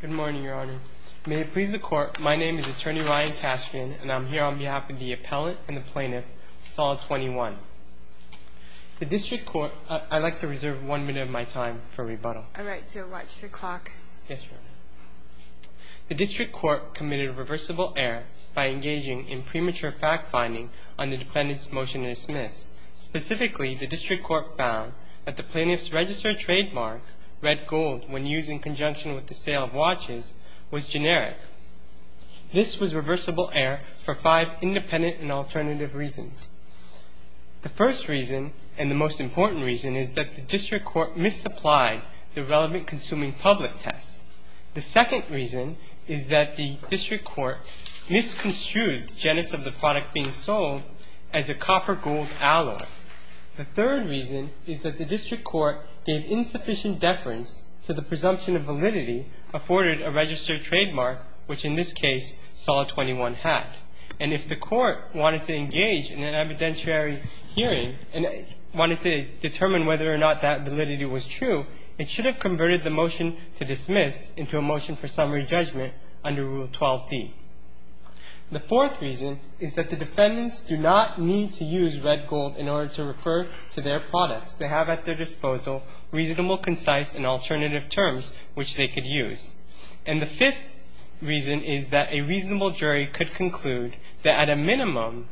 Good morning, Your Honors. May it please the Court, my name is Attorney Ryan Cashian, and I'm here on behalf of the appellate and the plaintiff, Sol 21. The District Court, I'd like to reserve one minute of my time for rebuttal. All right, so watch the clock. Yes, Your Honor. The District Court committed a reversible error by engaging in premature fact-finding on the defendant's motion to dismiss. Specifically, the District Court found that the plaintiff's registered trademark, red gold, when used in conjunction with the sale of watches, was generic. This was reversible error for five independent and alternative reasons. The first reason, and the most important reason, is that the District Court misapplied the relevant consuming public test. The second reason is that the District Court misconstrued the genus of the product being sold as a copper gold alloy. The third reason is that the District Court gave insufficient deference to the presumption of validity afforded a registered trademark, which in this case, Sol 21 had. And if the Court wanted to engage in an evidentiary hearing and wanted to determine whether or not that validity was true, it should have converted the motion to dismiss into a motion for summary judgment under Rule 12d. The fourth reason is that the defendants do not need to use red gold in order to refer to their products. They have at their disposal reasonable, concise, and alternative terms which they could use. And the fifth reason is that a reasonable jury could conclude that at a minimum,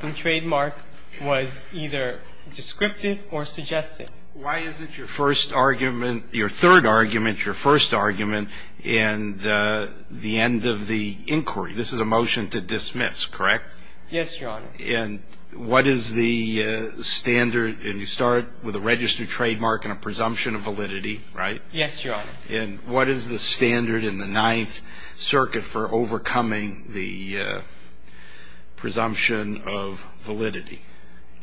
the trademark was either descriptive or suggestive. Why isn't your first argument, your third argument, your first argument, and the end of the inquiry? This is a motion to dismiss, correct? Yes, Your Honor. And what is the standard? And you start with a registered trademark and a presumption of validity, right? Yes, Your Honor. And what is the standard in the Ninth Circuit for overcoming the presumption of validity,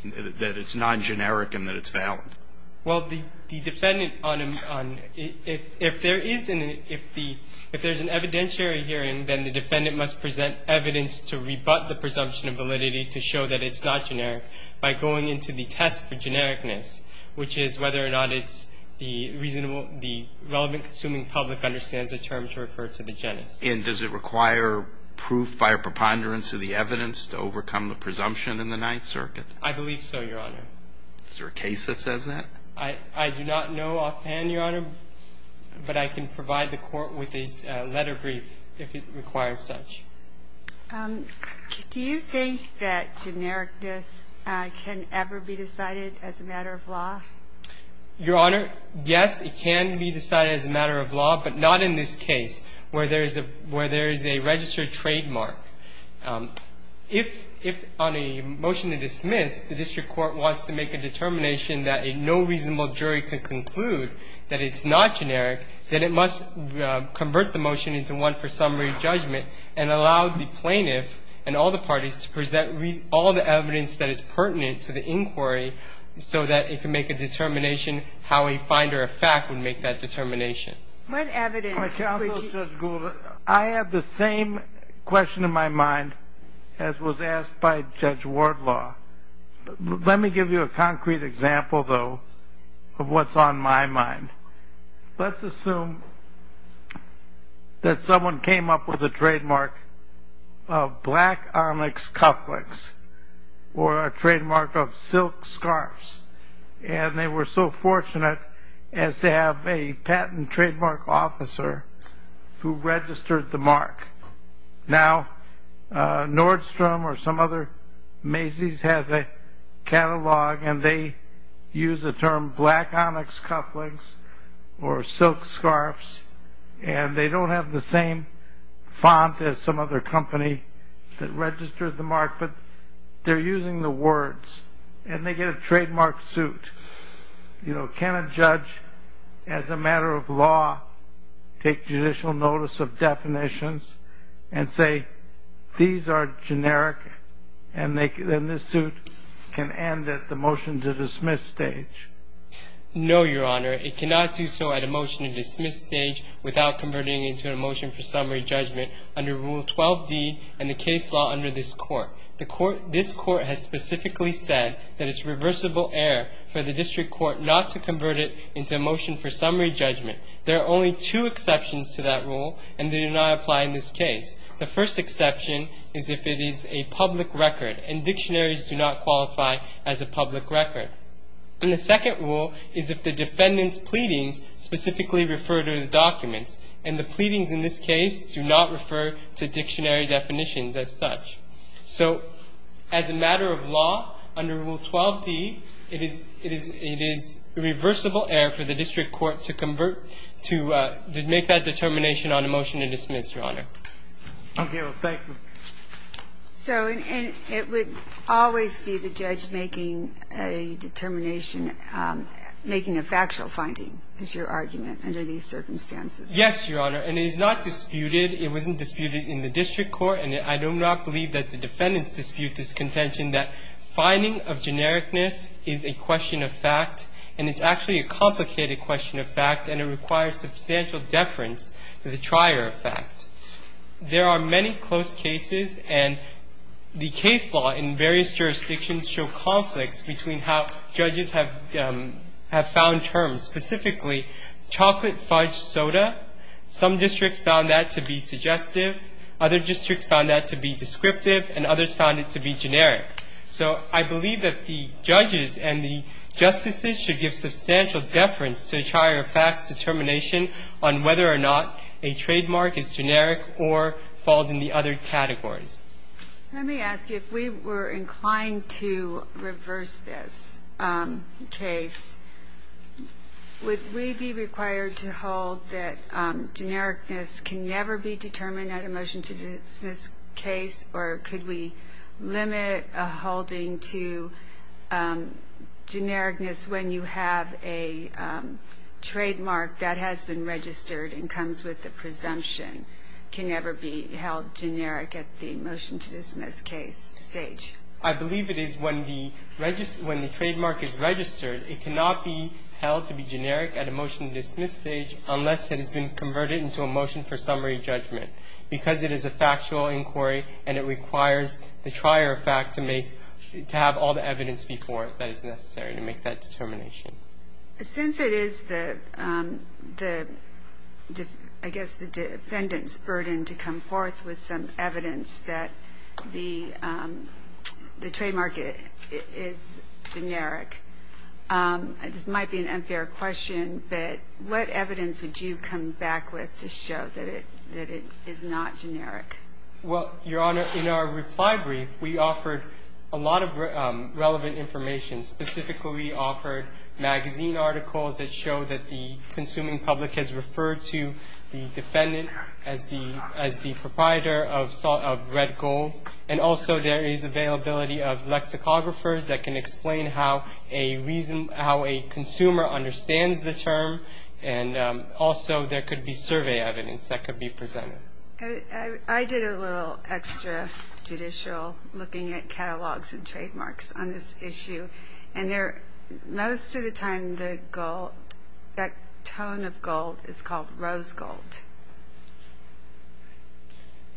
that it's non-generic and that it's valid? Well, the defendant on a – if there is an – if the – if there's an evidentiary hearing, then the defendant must present evidence to rebut the presumption of validity to show that it's not generic by going into the test for genericness, which is whether or not it's the reasonable – the relevant consuming public understands a term to refer to the genus. And does it require proof via preponderance of the evidence to overcome the presumption in the Ninth Circuit? I believe so, Your Honor. Is there a case that says that? I do not know offhand, Your Honor, but I can provide the Court with a letter brief if it requires such. Do you think that genericness can ever be decided as a matter of law? Your Honor, yes, it can be decided as a matter of law, but not in this case, where there is a – where there is a registered trademark. If – if on a motion to dismiss, the district court wants to make a determination that a no reasonable jury could conclude that it's not generic, then it must convert the motion into one for summary judgment and allow the plaintiff and all the parties to present all the evidence that is pertinent to the inquiry so that it can make a determination how a finder of fact would make that determination. What evidence would you – Counsel, Judge Gould, I have the same question in my mind as was asked by Judge Wardlaw. Let me give you a concrete example, though, of what's on my mind. Let's assume that someone came up with a trademark of black onyx cufflinks or a trademark of silk scarves, and they were so fortunate as to have a patent trademark officer who registered the mark. Now, Nordstrom or some other – Macy's has a catalog, and they use the term black onyx cufflinks or silk scarves, and they don't have the same font as some other company that registered the mark, but they're using the words, and they get a trademark suit. You know, can a judge, as a matter of law, take judicial notice of definitions and say, these are generic and this suit can end at the motion-to-dismiss stage? No, Your Honor. It cannot do so at a motion-to-dismiss stage without converting it into a motion for summary judgment under Rule 12d and the case law under this Court. This Court has specifically said that it's reversible error for the district court not to convert it into a motion for summary judgment. There are only two exceptions to that rule, and they do not apply in this case. The first exception is if it is a public record, and dictionaries do not qualify as a public record. And the second rule is if the defendant's pleadings specifically refer to the documents, and the pleadings in this case do not refer to dictionary definitions as such. So as a matter of law, under Rule 12d, it is the reversible error for the district court to convert, to make that determination on a motion-to-dismiss, Your Honor. Okay. Well, thank you. So it would always be the judge making a determination, making a factual finding, is your argument under these circumstances? Yes, Your Honor. And it is not disputed. It wasn't disputed in the district court, and I do not believe that the defendants dispute this contention that finding of genericness is a question of fact, and it's actually a complicated question of fact, and it requires substantial deference to the trier of fact. There are many close cases, and the case law in various jurisdictions show conflicts between how judges have found terms, specifically chocolate fudge soda. Some districts found that to be suggestive, other districts found that to be descriptive, and others found it to be generic. So I believe that the judges and the justices should give substantial deference to the trier of fact's determination on whether or not a trademark is generic or falls in the other categories. Let me ask you, if we were inclined to reverse this case, would we be required to hold that genericness can never be determined at a motion-to-dismiss case, or could we limit a holding to genericness when you have a trademark that has been registered and comes with a presumption, can never be held generic at the motion-to-dismiss case stage? I believe it is when the trademark is registered. It cannot be held to be generic at a motion-to-dismiss stage unless it has been converted into a motion for summary judgment, because it is a factual inquiry, and it requires the trier of fact to have all the evidence before it that is necessary to make that determination. Since it is the, I guess, the defendant's burden to come forth with some evidence that the trademark is generic, this might be an unfair question, but what evidence would you come back with to show that it is not generic? Well, Your Honor, in our reply brief, we offered a lot of relevant information. Specifically, we offered magazine articles that show that the consuming public has And also there is availability of lexicographers that can explain how a consumer understands the term, and also there could be survey evidence that could be presented. I did a little extra judicial looking at catalogs and trademarks on this issue, and most of the time that tone of gold is called rose gold.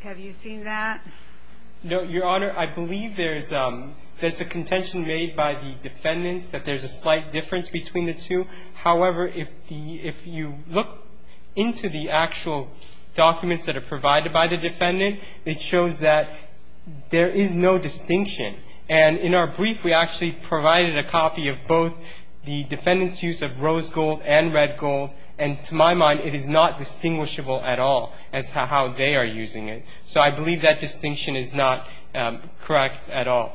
Have you seen that? No, Your Honor. I believe there is a contention made by the defendants that there is a slight difference between the two. However, if you look into the actual documents that are provided by the defendant, it shows that there is no distinction. And in our brief, we actually provided a copy of both the defendant's use of rose So I believe that distinction is not correct at all.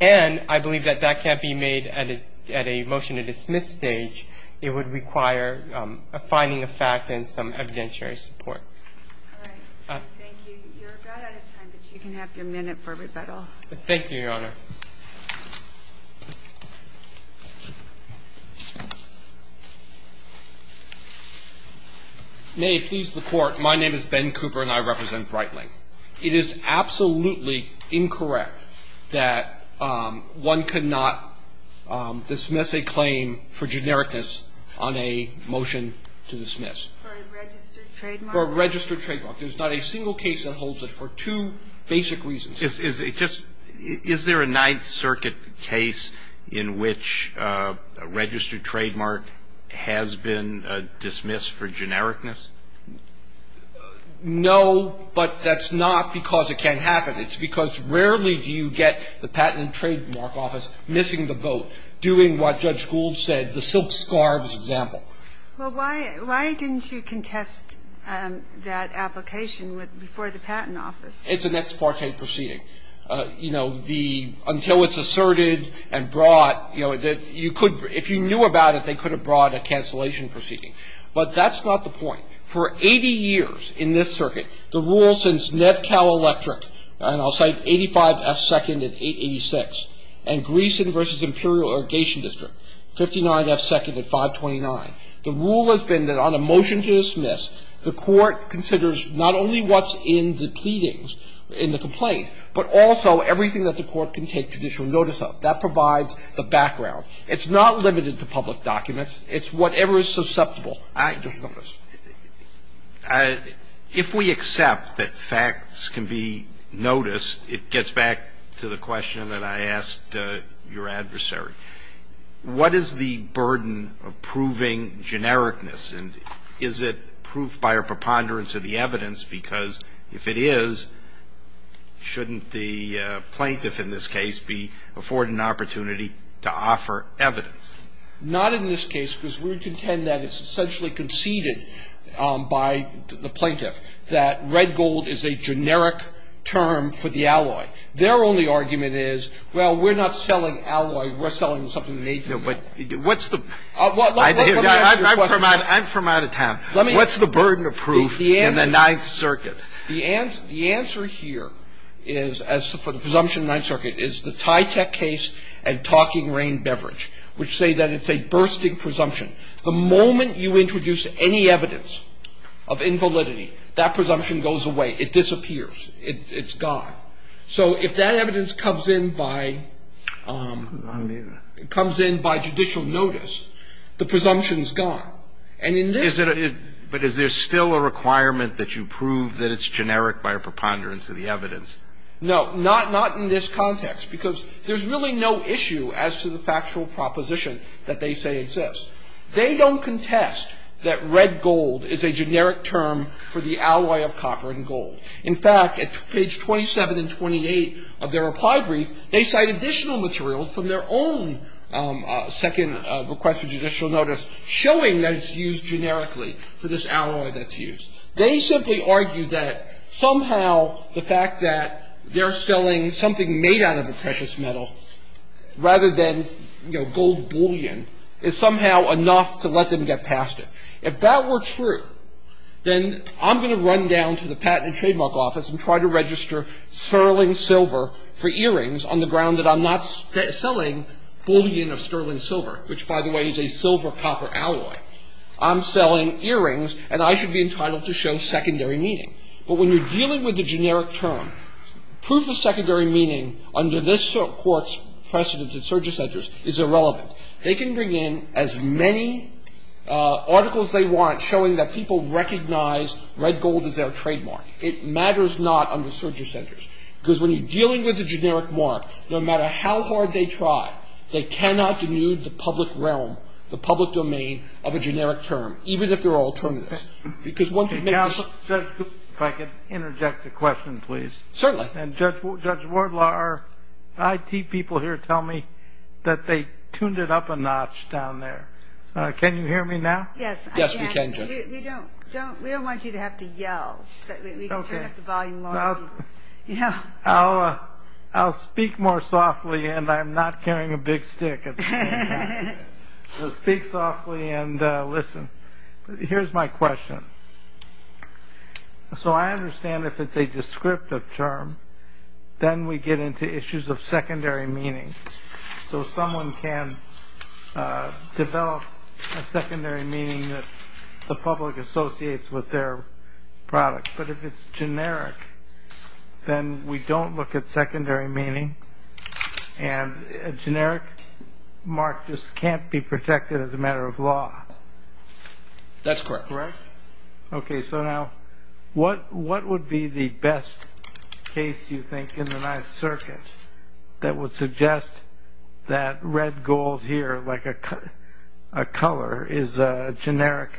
And I believe that that can't be made at a motion to dismiss stage. It would require a finding of fact and some evidentiary support. All right. Thank you. You're about out of time, but you can have your minute for rebuttal. Thank you, Your Honor. May it please the Court. My name is Ben Cooper, and I represent Breitling. It is absolutely incorrect that one could not dismiss a claim for genericness on a motion to dismiss. For a registered trademark? For a registered trademark. There's not a single case that holds it for two basic reasons. Is there a Ninth Circuit case in which a registered trademark has been dismissed for genericness? No, but that's not because it can't happen. It's because rarely do you get the Patent and Trademark Office missing the boat, doing what Judge Gould said, the silk scarves example. Well, why didn't you contest that application before the Patent Office? It's an ex parte proceeding. You know, until it's asserted and brought, you know, if you knew about it, they could have brought a cancellation proceeding. But that's not the point. For 80 years in this circuit, the rule since Nevcal Electric, and I'll cite 85F2nd and 886, and Greeson v. Imperial Irrigation District, 59F2nd and 529, the rule has been that on a motion to dismiss, the court considers not only what's in the pleadings in the complaint, but also everything that the court can take judicial notice of. That provides the background. It's not limited to public documents. It's whatever is susceptible. I just noticed. If we accept that facts can be noticed, it gets back to the question that I asked your adversary. What is the burden of proving genericness? And is it proof by a preponderance of the evidence? Because if it is, shouldn't the plaintiff in this case be afforded an opportunity to offer evidence? Not in this case, because we contend that it's essentially conceded by the plaintiff that red gold is a generic term for the alloy. Their only argument is, well, we're not selling alloy. We're selling something made from it. What's the question? Let me ask you a question. I'm from out of town. What's the burden of proof in the Ninth Circuit? The answer here is, as for the presumption of the Ninth Circuit, is the Tytech case and Talking Rain Beverage, which say that it's a bursting presumption. The moment you introduce any evidence of invalidity, that presumption goes away. It disappears. It's gone. So if that evidence comes in by judicial notice, the presumption of validity is gone. But is there still a requirement that you prove that it's generic by a preponderance of the evidence? No. Not in this context, because there's really no issue as to the factual proposition that they say exists. They don't contest that red gold is a generic term for the alloy of copper and gold. In fact, at page 27 and 28 of their reply brief, they cite additional material from their own second request for judicial notice showing that it's used generically for this alloy that's used. They simply argue that somehow the fact that they're selling something made out of a precious metal rather than, you know, gold bullion is somehow enough to let them get past it. If that were true, then I'm going to run down to the Patent and Trademark Office and try to register sterling silver for earrings on the ground that I'm not selling bullion of sterling silver, which, by the way, is a silver-copper alloy. I'm selling earrings, and I should be entitled to show secondary meaning. But when you're dealing with a generic term, proof of secondary meaning under this Court's precedent at surges centers is irrelevant. They can bring in as many articles as they want showing that people recognize red gold as their trademark. It matters not under surges centers. Because when you're dealing with a generic mark, no matter how hard they try, they cannot denude the public realm, the public domain of a generic term, even if they're all terminus. Because one could make a... Judge, if I could interject a question, please. Certainly. And, Judge Wardlaw, our IT people here tell me that they tuned it up a notch down there. Can you hear me now? Yes, I can. Yes, we can, Judge. We don't want you to have to yell. We can turn up the volume. I'll speak more softly, and I'm not carrying a big stick. I'll speak softly and listen. Here's my question. So I understand if it's a descriptive term, then we get into issues of secondary meaning. So someone can develop a secondary meaning that the public associates with their product. But if it's generic, then we don't look at secondary meaning. And a generic mark just can't be protected as a matter of law. That's correct. Correct? Okay. So now, what would be the best case, you think, in the ninth circuit that would suggest that red gold here, like a color, is a generic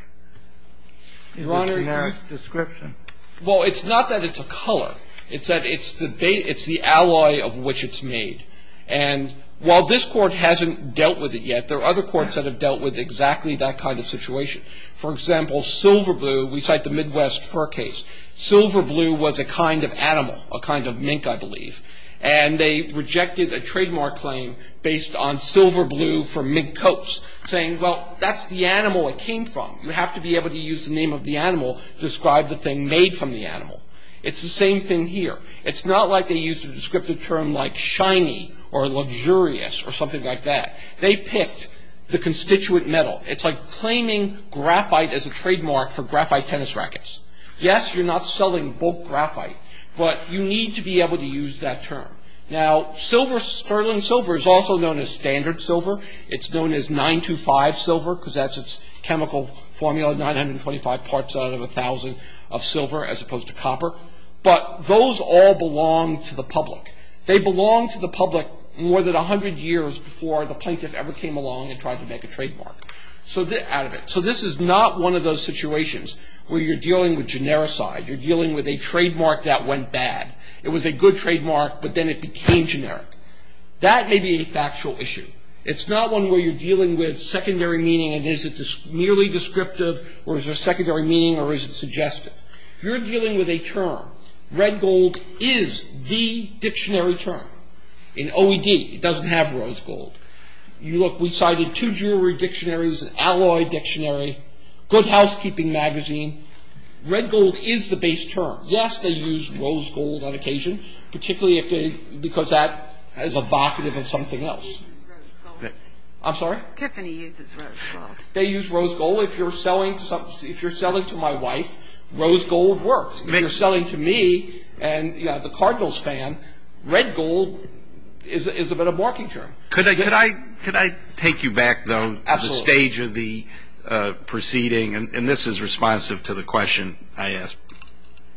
description? Well, it's not that it's a color. It's that it's the alloy of which it's made. And while this Court hasn't dealt with it yet, there are other courts that have dealt with exactly that kind of situation. For example, silver blue, we cite the Midwest fur case. Silver blue was a kind of animal, a kind of mink, I believe. And they rejected a trademark claim based on silver blue for mink coats, saying, well, that's the animal it came from. You have to be able to use the name of the animal to describe the thing made from the animal. It's the same thing here. It's not like they used a descriptive term like shiny or luxurious or something like that. They picked the constituent metal. It's like claiming graphite as a trademark for graphite tennis rackets. Yes, you're not selling bulk graphite, but you need to be able to use that term. Now, sterling silver is also known as standard silver. It's known as 925 silver because that's its chemical formula, 925 parts out of 1,000 of silver as opposed to copper. But those all belong to the public. They belong to the public more than 100 years before the plaintiff ever came along and tried to make a trademark out of it. So this is not one of those situations where you're dealing with genericide. You're dealing with a trademark that went bad. It was a good trademark, but then it became generic. That may be a factual issue. It's not one where you're dealing with secondary meaning, and is it merely descriptive or is there secondary meaning or is it suggestive. You're dealing with a term. Red gold is the dictionary term. In OED, it doesn't have rose gold. Look, we cited two jewelry dictionaries, an alloy dictionary, good housekeeping magazine. Red gold is the base term. Yes, they use rose gold on occasion, particularly because that is evocative of something else. I'm sorry? Tiffany uses rose gold. They use rose gold. If you're selling to my wife, rose gold works. If you're selling to me and the Cardinals fan, red gold is a bit of a marking term. Could I take you back, though, to the stage of the proceeding? And this is responsive to the question I asked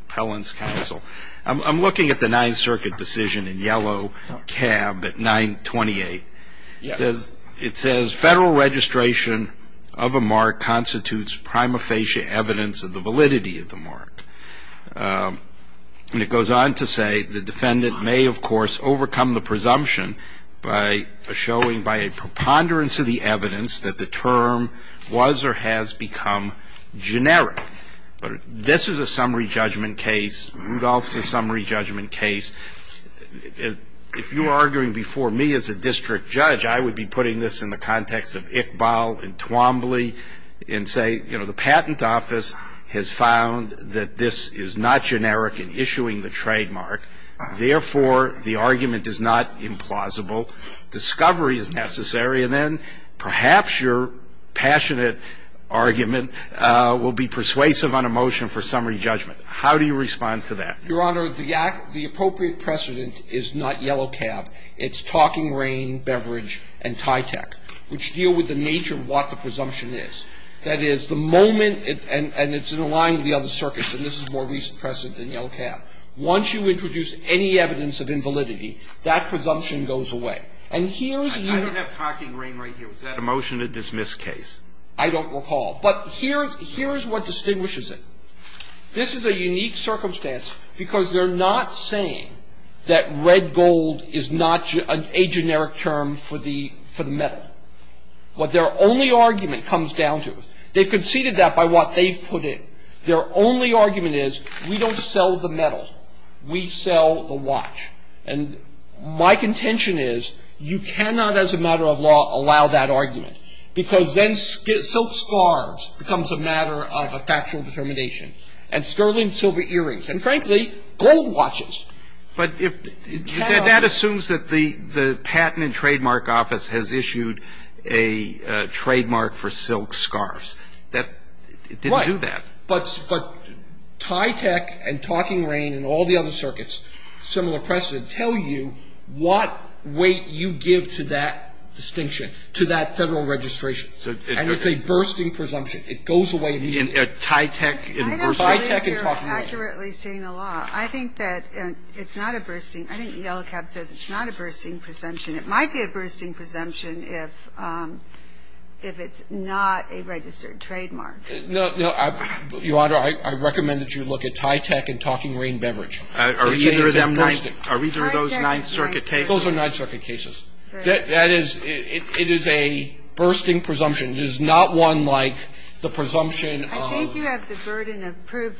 Pellin's counsel. I'm looking at the Ninth Circuit decision in yellow cab at 928. It says, Federal registration of a mark constitutes prima facie evidence of the validity of the mark. And it goes on to say the defendant may, of course, overcome the presumption by showing by a preponderance of the evidence that the term was or has become generic. This is a summary judgment case. Rudolph's a summary judgment case. If you were arguing before me as a district judge, I would be putting this in the context of Iqbal and Twombly and say, you know, the patent office has found that this is not generic in issuing the trademark. Therefore, the argument is not implausible. Discovery is necessary. And then perhaps your passionate argument will be persuasive on a motion for summary judgment. How do you respond to that? Your Honor, the appropriate precedent is not yellow cab. It's talking rain, beverage, and TYTEC, which deal with the nature of what the presumption is. That is, the moment and it's in line with the other circuits, and this is more recent precedent than yellow cab. Once you introduce any evidence of invalidity, that presumption goes away. And here's the unit. I don't have talking rain right here. Was that a motion to dismiss case? I don't recall. But here's what distinguishes it. This is a unique circumstance because they're not saying that red gold is not a generic term for the metal. But their only argument comes down to it. They've conceded that by what they've put in. Their only argument is we don't sell the metal. We sell the watch. And my contention is you cannot, as a matter of law, allow that argument. Because then silk scarves becomes a matter of a factual determination. And sterling silver earrings. And, frankly, gold watches. But that assumes that the patent and trademark office has issued a trademark for silk scarves. It didn't do that. Right. But TYTEC and talking rain and all the other circuits, similar precedent, I think that the fact that the patent and trademark office has issued a trademark for silk scarves, doesn't tell you what weight you give to that distinction, to that Federal registration. And it's a bursting presumption. It goes away. And TYTEC and bursting? I don't believe you're accurately saying the law. I think it's not a bursting. I think Yellow Cab says it's not a bursting presumption. It might be a bursting presumption if it's not a registered trademark. Your Honor, I recommend that you look at TYTEC and talking rain beverage. Are either of those Ninth Circuit cases? Those are Ninth Circuit cases. That is, it is a bursting presumption. It is not one like the presumption of... I think you have the burden of proof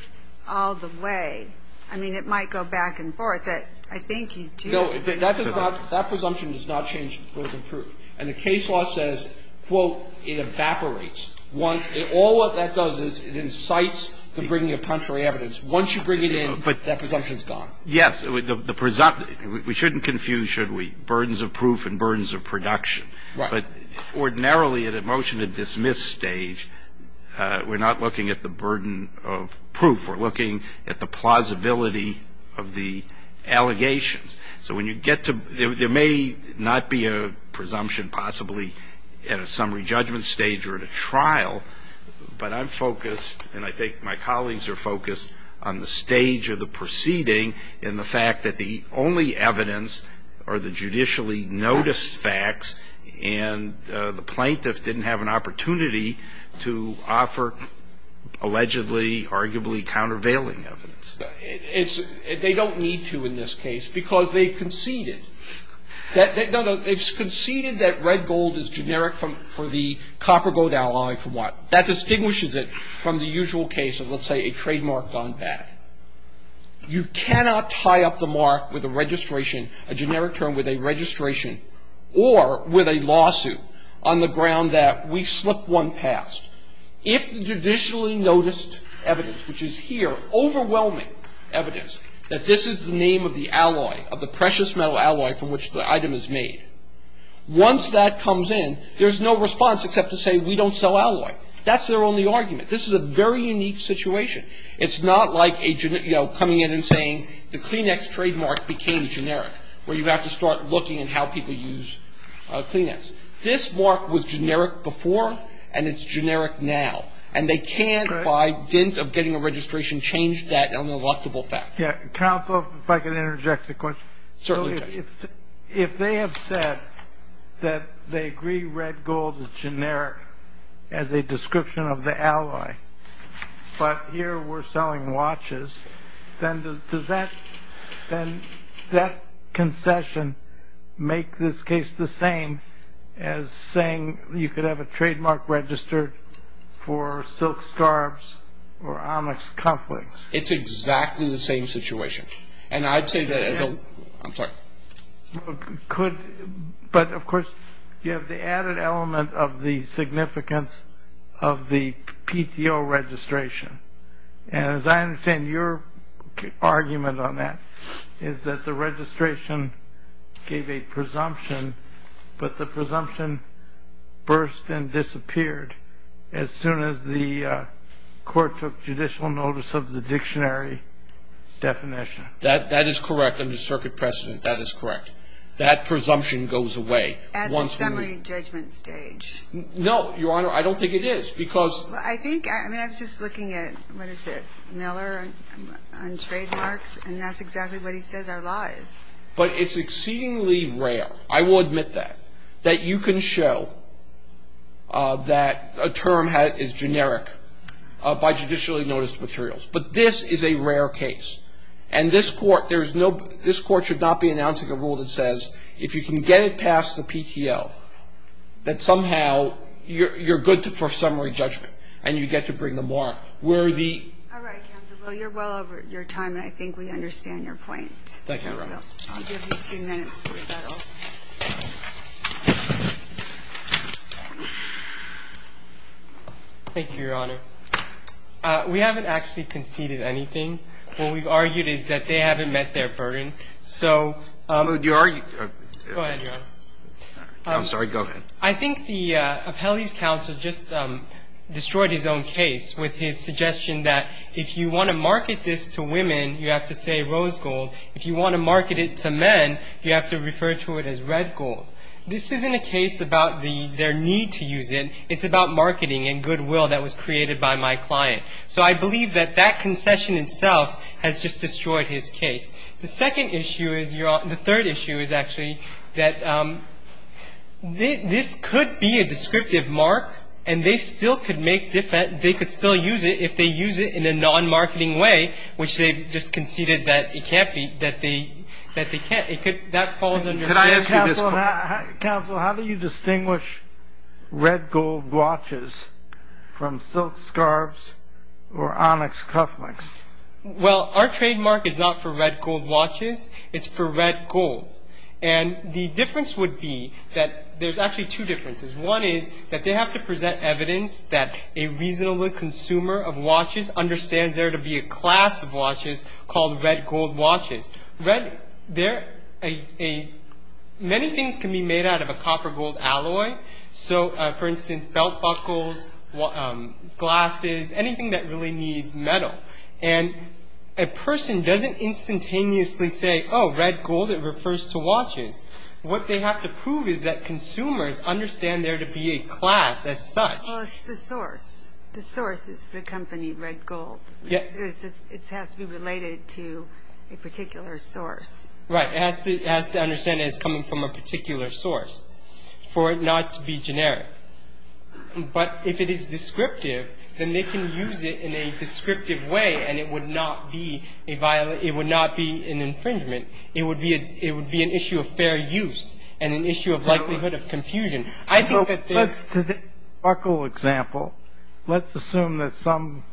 all the way. I mean, it might go back and forth. I think you do. That presumption does not change the burden of proof. And the case law says, quote, it evaporates once. All that does is it incites the bringing of contrary evidence. Once you bring it in, that presumption is gone. Yes. We shouldn't confuse, should we, burdens of proof and burdens of production. Right. But ordinarily at a motion to dismiss stage, we're not looking at the burden of proof. We're looking at the plausibility of the allegations. So when you get to... There may not be a presumption possibly at a summary judgment stage or at a trial, but I'm focused and I think my colleagues are focused on the stage of the proceeding and the fact that the only evidence are the judicially noticed facts and the plaintiffs didn't have an opportunity to offer allegedly, arguably countervailing evidence. They don't need to in this case because they conceded. No, no. They conceded that red gold is generic for the copper gold alloy from what? That distinguishes it from the usual case of, let's say, a trademark gone bad. You cannot tie up the mark with a registration, a generic term with a registration or with a lawsuit on the ground that we slipped one past. If the judicially noticed evidence, which is here, overwhelming evidence, that this is the name of the alloy, of the precious metal alloy from which the item is made, once that comes in, there's no response except to say we don't sell alloy. That's their only argument. This is a very unique situation. It's not like coming in and saying the Kleenex trademark became generic, where you have to start looking at how people use Kleenex. This mark was generic before, and it's generic now. And they can't, by dint of getting a registration, change that on an electable fact. Counsel, if I could interject a question. Certainly. If they have said that they agree red gold is generic as a description of the alloy, but here we're selling watches, then does that concession make this case the same as saying you could have a trademark registered for silk scarves or onyx cufflinks? It's exactly the same situation. And I'd say that as a – I'm sorry. But, of course, you have the added element of the significance of the PTO registration. And as I understand your argument on that is that the registration gave a presumption, but the presumption burst and disappeared as soon as the court took judicial notice of the dictionary definition. That is correct. Under circuit precedent, that is correct. That presumption goes away. At the summary judgment stage. No, Your Honor. I don't think it is, because – I think – I mean, I was just looking at, what is it, Miller on trademarks, and that's exactly what he says our law is. But it's exceedingly rare, I will admit that, that you can show that a term is generic by judicially noticed materials. But this is a rare case. And this Court, there's no – this Court should not be announcing a rule that says if you can get it past the PTO, that somehow you're good for summary judgment and you get to bring them more. We're the – All right, Counsel. Well, you're well over your time, and I think we understand your point. Thank you, Your Honor. I'll give you two minutes for rebuttal. Thank you, Your Honor. We haven't actually conceded anything. What we've argued is that they haven't met their burden. So – But you – Go ahead, Your Honor. I'm sorry. Go ahead. I think the appellee's counsel just destroyed his own case with his suggestion that if you want to market this to women, you have to say rose gold. If you want to market it to men, you have to refer to it as red gold. This isn't a case about their need to use it. It's about marketing and goodwill that was created by my client. So I believe that that concession itself has just destroyed his case. The second issue is – the third issue is actually that this could be a descriptive mark, and they still could make – they could still use it if they use it in a non-marketing way, which they just conceded that it can't be – that they can't. It could – that falls under this. Counsel, how do you distinguish red gold watches from silk scarves or onyx cufflinks? Well, our trademark is not for red gold watches. It's for red gold. And the difference would be that – there's actually two differences. One is that they have to present evidence that a reasonable consumer of watches understands there to be a class of watches called red gold watches. Many things can be made out of a copper gold alloy. So, for instance, belt buckles, glasses, anything that really needs metal. And a person doesn't instantaneously say, oh, red gold, it refers to watches. What they have to prove is that consumers understand there to be a class as such. Well, it's the source. The source is the company red gold. It has to be related to a particular source. Right. It has to understand that it's coming from a particular source for it not to be generic. But if it is descriptive, then they can use it in a descriptive way, and it would not be a – it would not be an infringement. It would be an issue of fair use and an issue of likelihood of confusion. To the buckle example, let's assume that some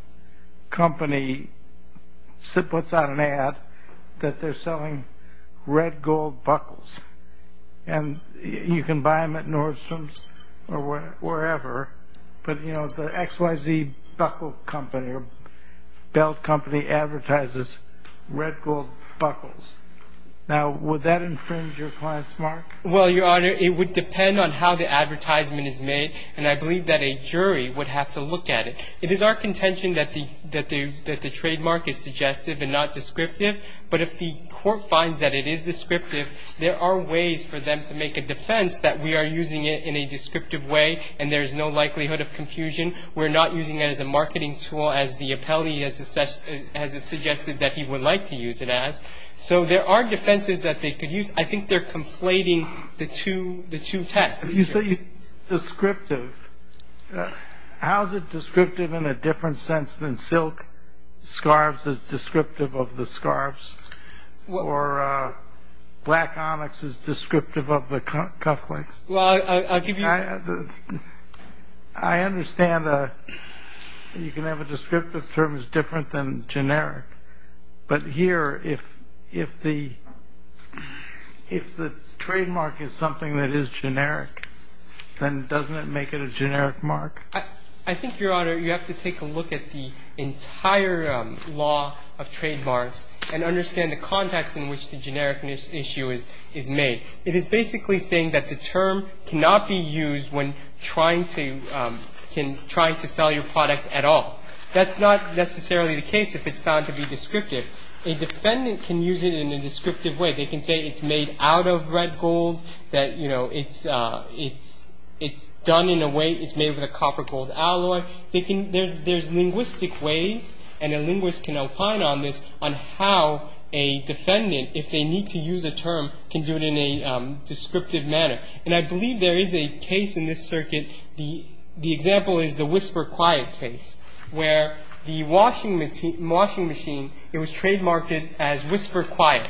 company puts out an ad that they're selling red gold buckles. And you can buy them at Nordstrom's or wherever, but, you know, the XYZ buckle company or belt company advertises red gold buckles. Now, would that infringe your client's mark? Well, Your Honor, it would depend on how the advertisement is made, and I believe that a jury would have to look at it. It is our contention that the trademark is suggestive and not descriptive, but if the court finds that it is descriptive, there are ways for them to make a defense that we are using it in a descriptive way and there is no likelihood of confusion. We're not using it as a marketing tool as the appellee has suggested that he would like to use it as. So there are defenses that they could use. I think they're conflating the two tests. You say descriptive. How is it descriptive in a different sense than silk scarves is descriptive of the scarves or black onyx is descriptive of the cuff links? Well, I'll give you. I understand you can have a descriptive term that's different than generic, but here if the trademark is something that is generic, then doesn't it make it a generic mark? I think, Your Honor, you have to take a look at the entire law of trademarks and understand the context in which the generic issue is made. It is basically saying that the term cannot be used when trying to sell your product at all. That's not necessarily the case if it's found to be descriptive. A defendant can use it in a descriptive way. They can say it's made out of red gold, that it's done in a way it's made with a copper gold alloy. There's linguistic ways, and a linguist can opine on this, on how a defendant, if they need to use a term, can do it in a descriptive manner. And I believe there is a case in this circuit. The example is the Whisper Quiet case, where the washing machine, it was trademarked as Whisper Quiet.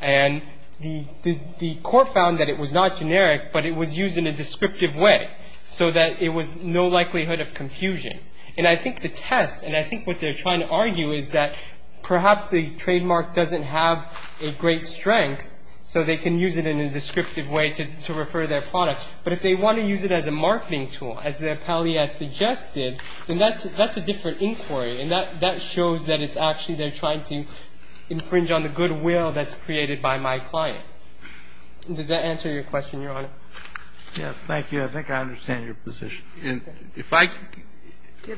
And the court found that it was not generic, but it was used in a descriptive way so that it was no likelihood of confusion. And I think the test, and I think what they're trying to argue, is that perhaps the trademark doesn't have a great strength, so they can use it in a descriptive way to refer their product. But if they want to use it as a marketing tool, as the appellee has suggested, then that's a different inquiry. And that shows that it's actually they're trying to infringe on the goodwill that's created by my client. Does that answer your question, Your Honor? Yes. Thank you. I think I understand your position.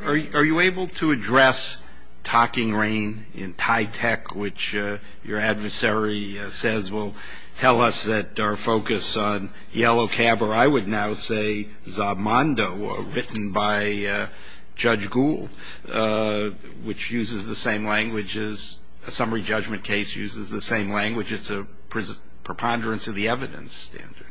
Are you able to address talking rain in TYTEC, which your adversary says will tell us that our focus on Yellow Cab, or I would now say Zob Mondo written by Judge Gould, which uses the same language as a summary judgment case, uses the same language. It's a preponderance of the evidence standard.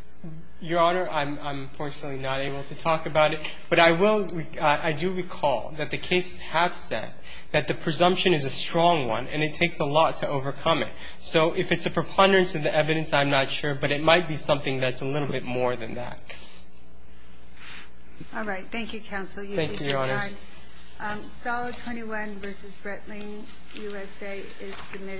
Your Honor, I'm unfortunately not able to talk about it. But I will. I do recall that the cases have said that the presumption is a strong one and it takes a lot to overcome it. So if it's a preponderance of the evidence, I'm not sure. But it might be something that's a little bit more than that. All right. Thank you, Counsel. Thank you, Your Honor. Solid 21 v. Breitling USA is submitted.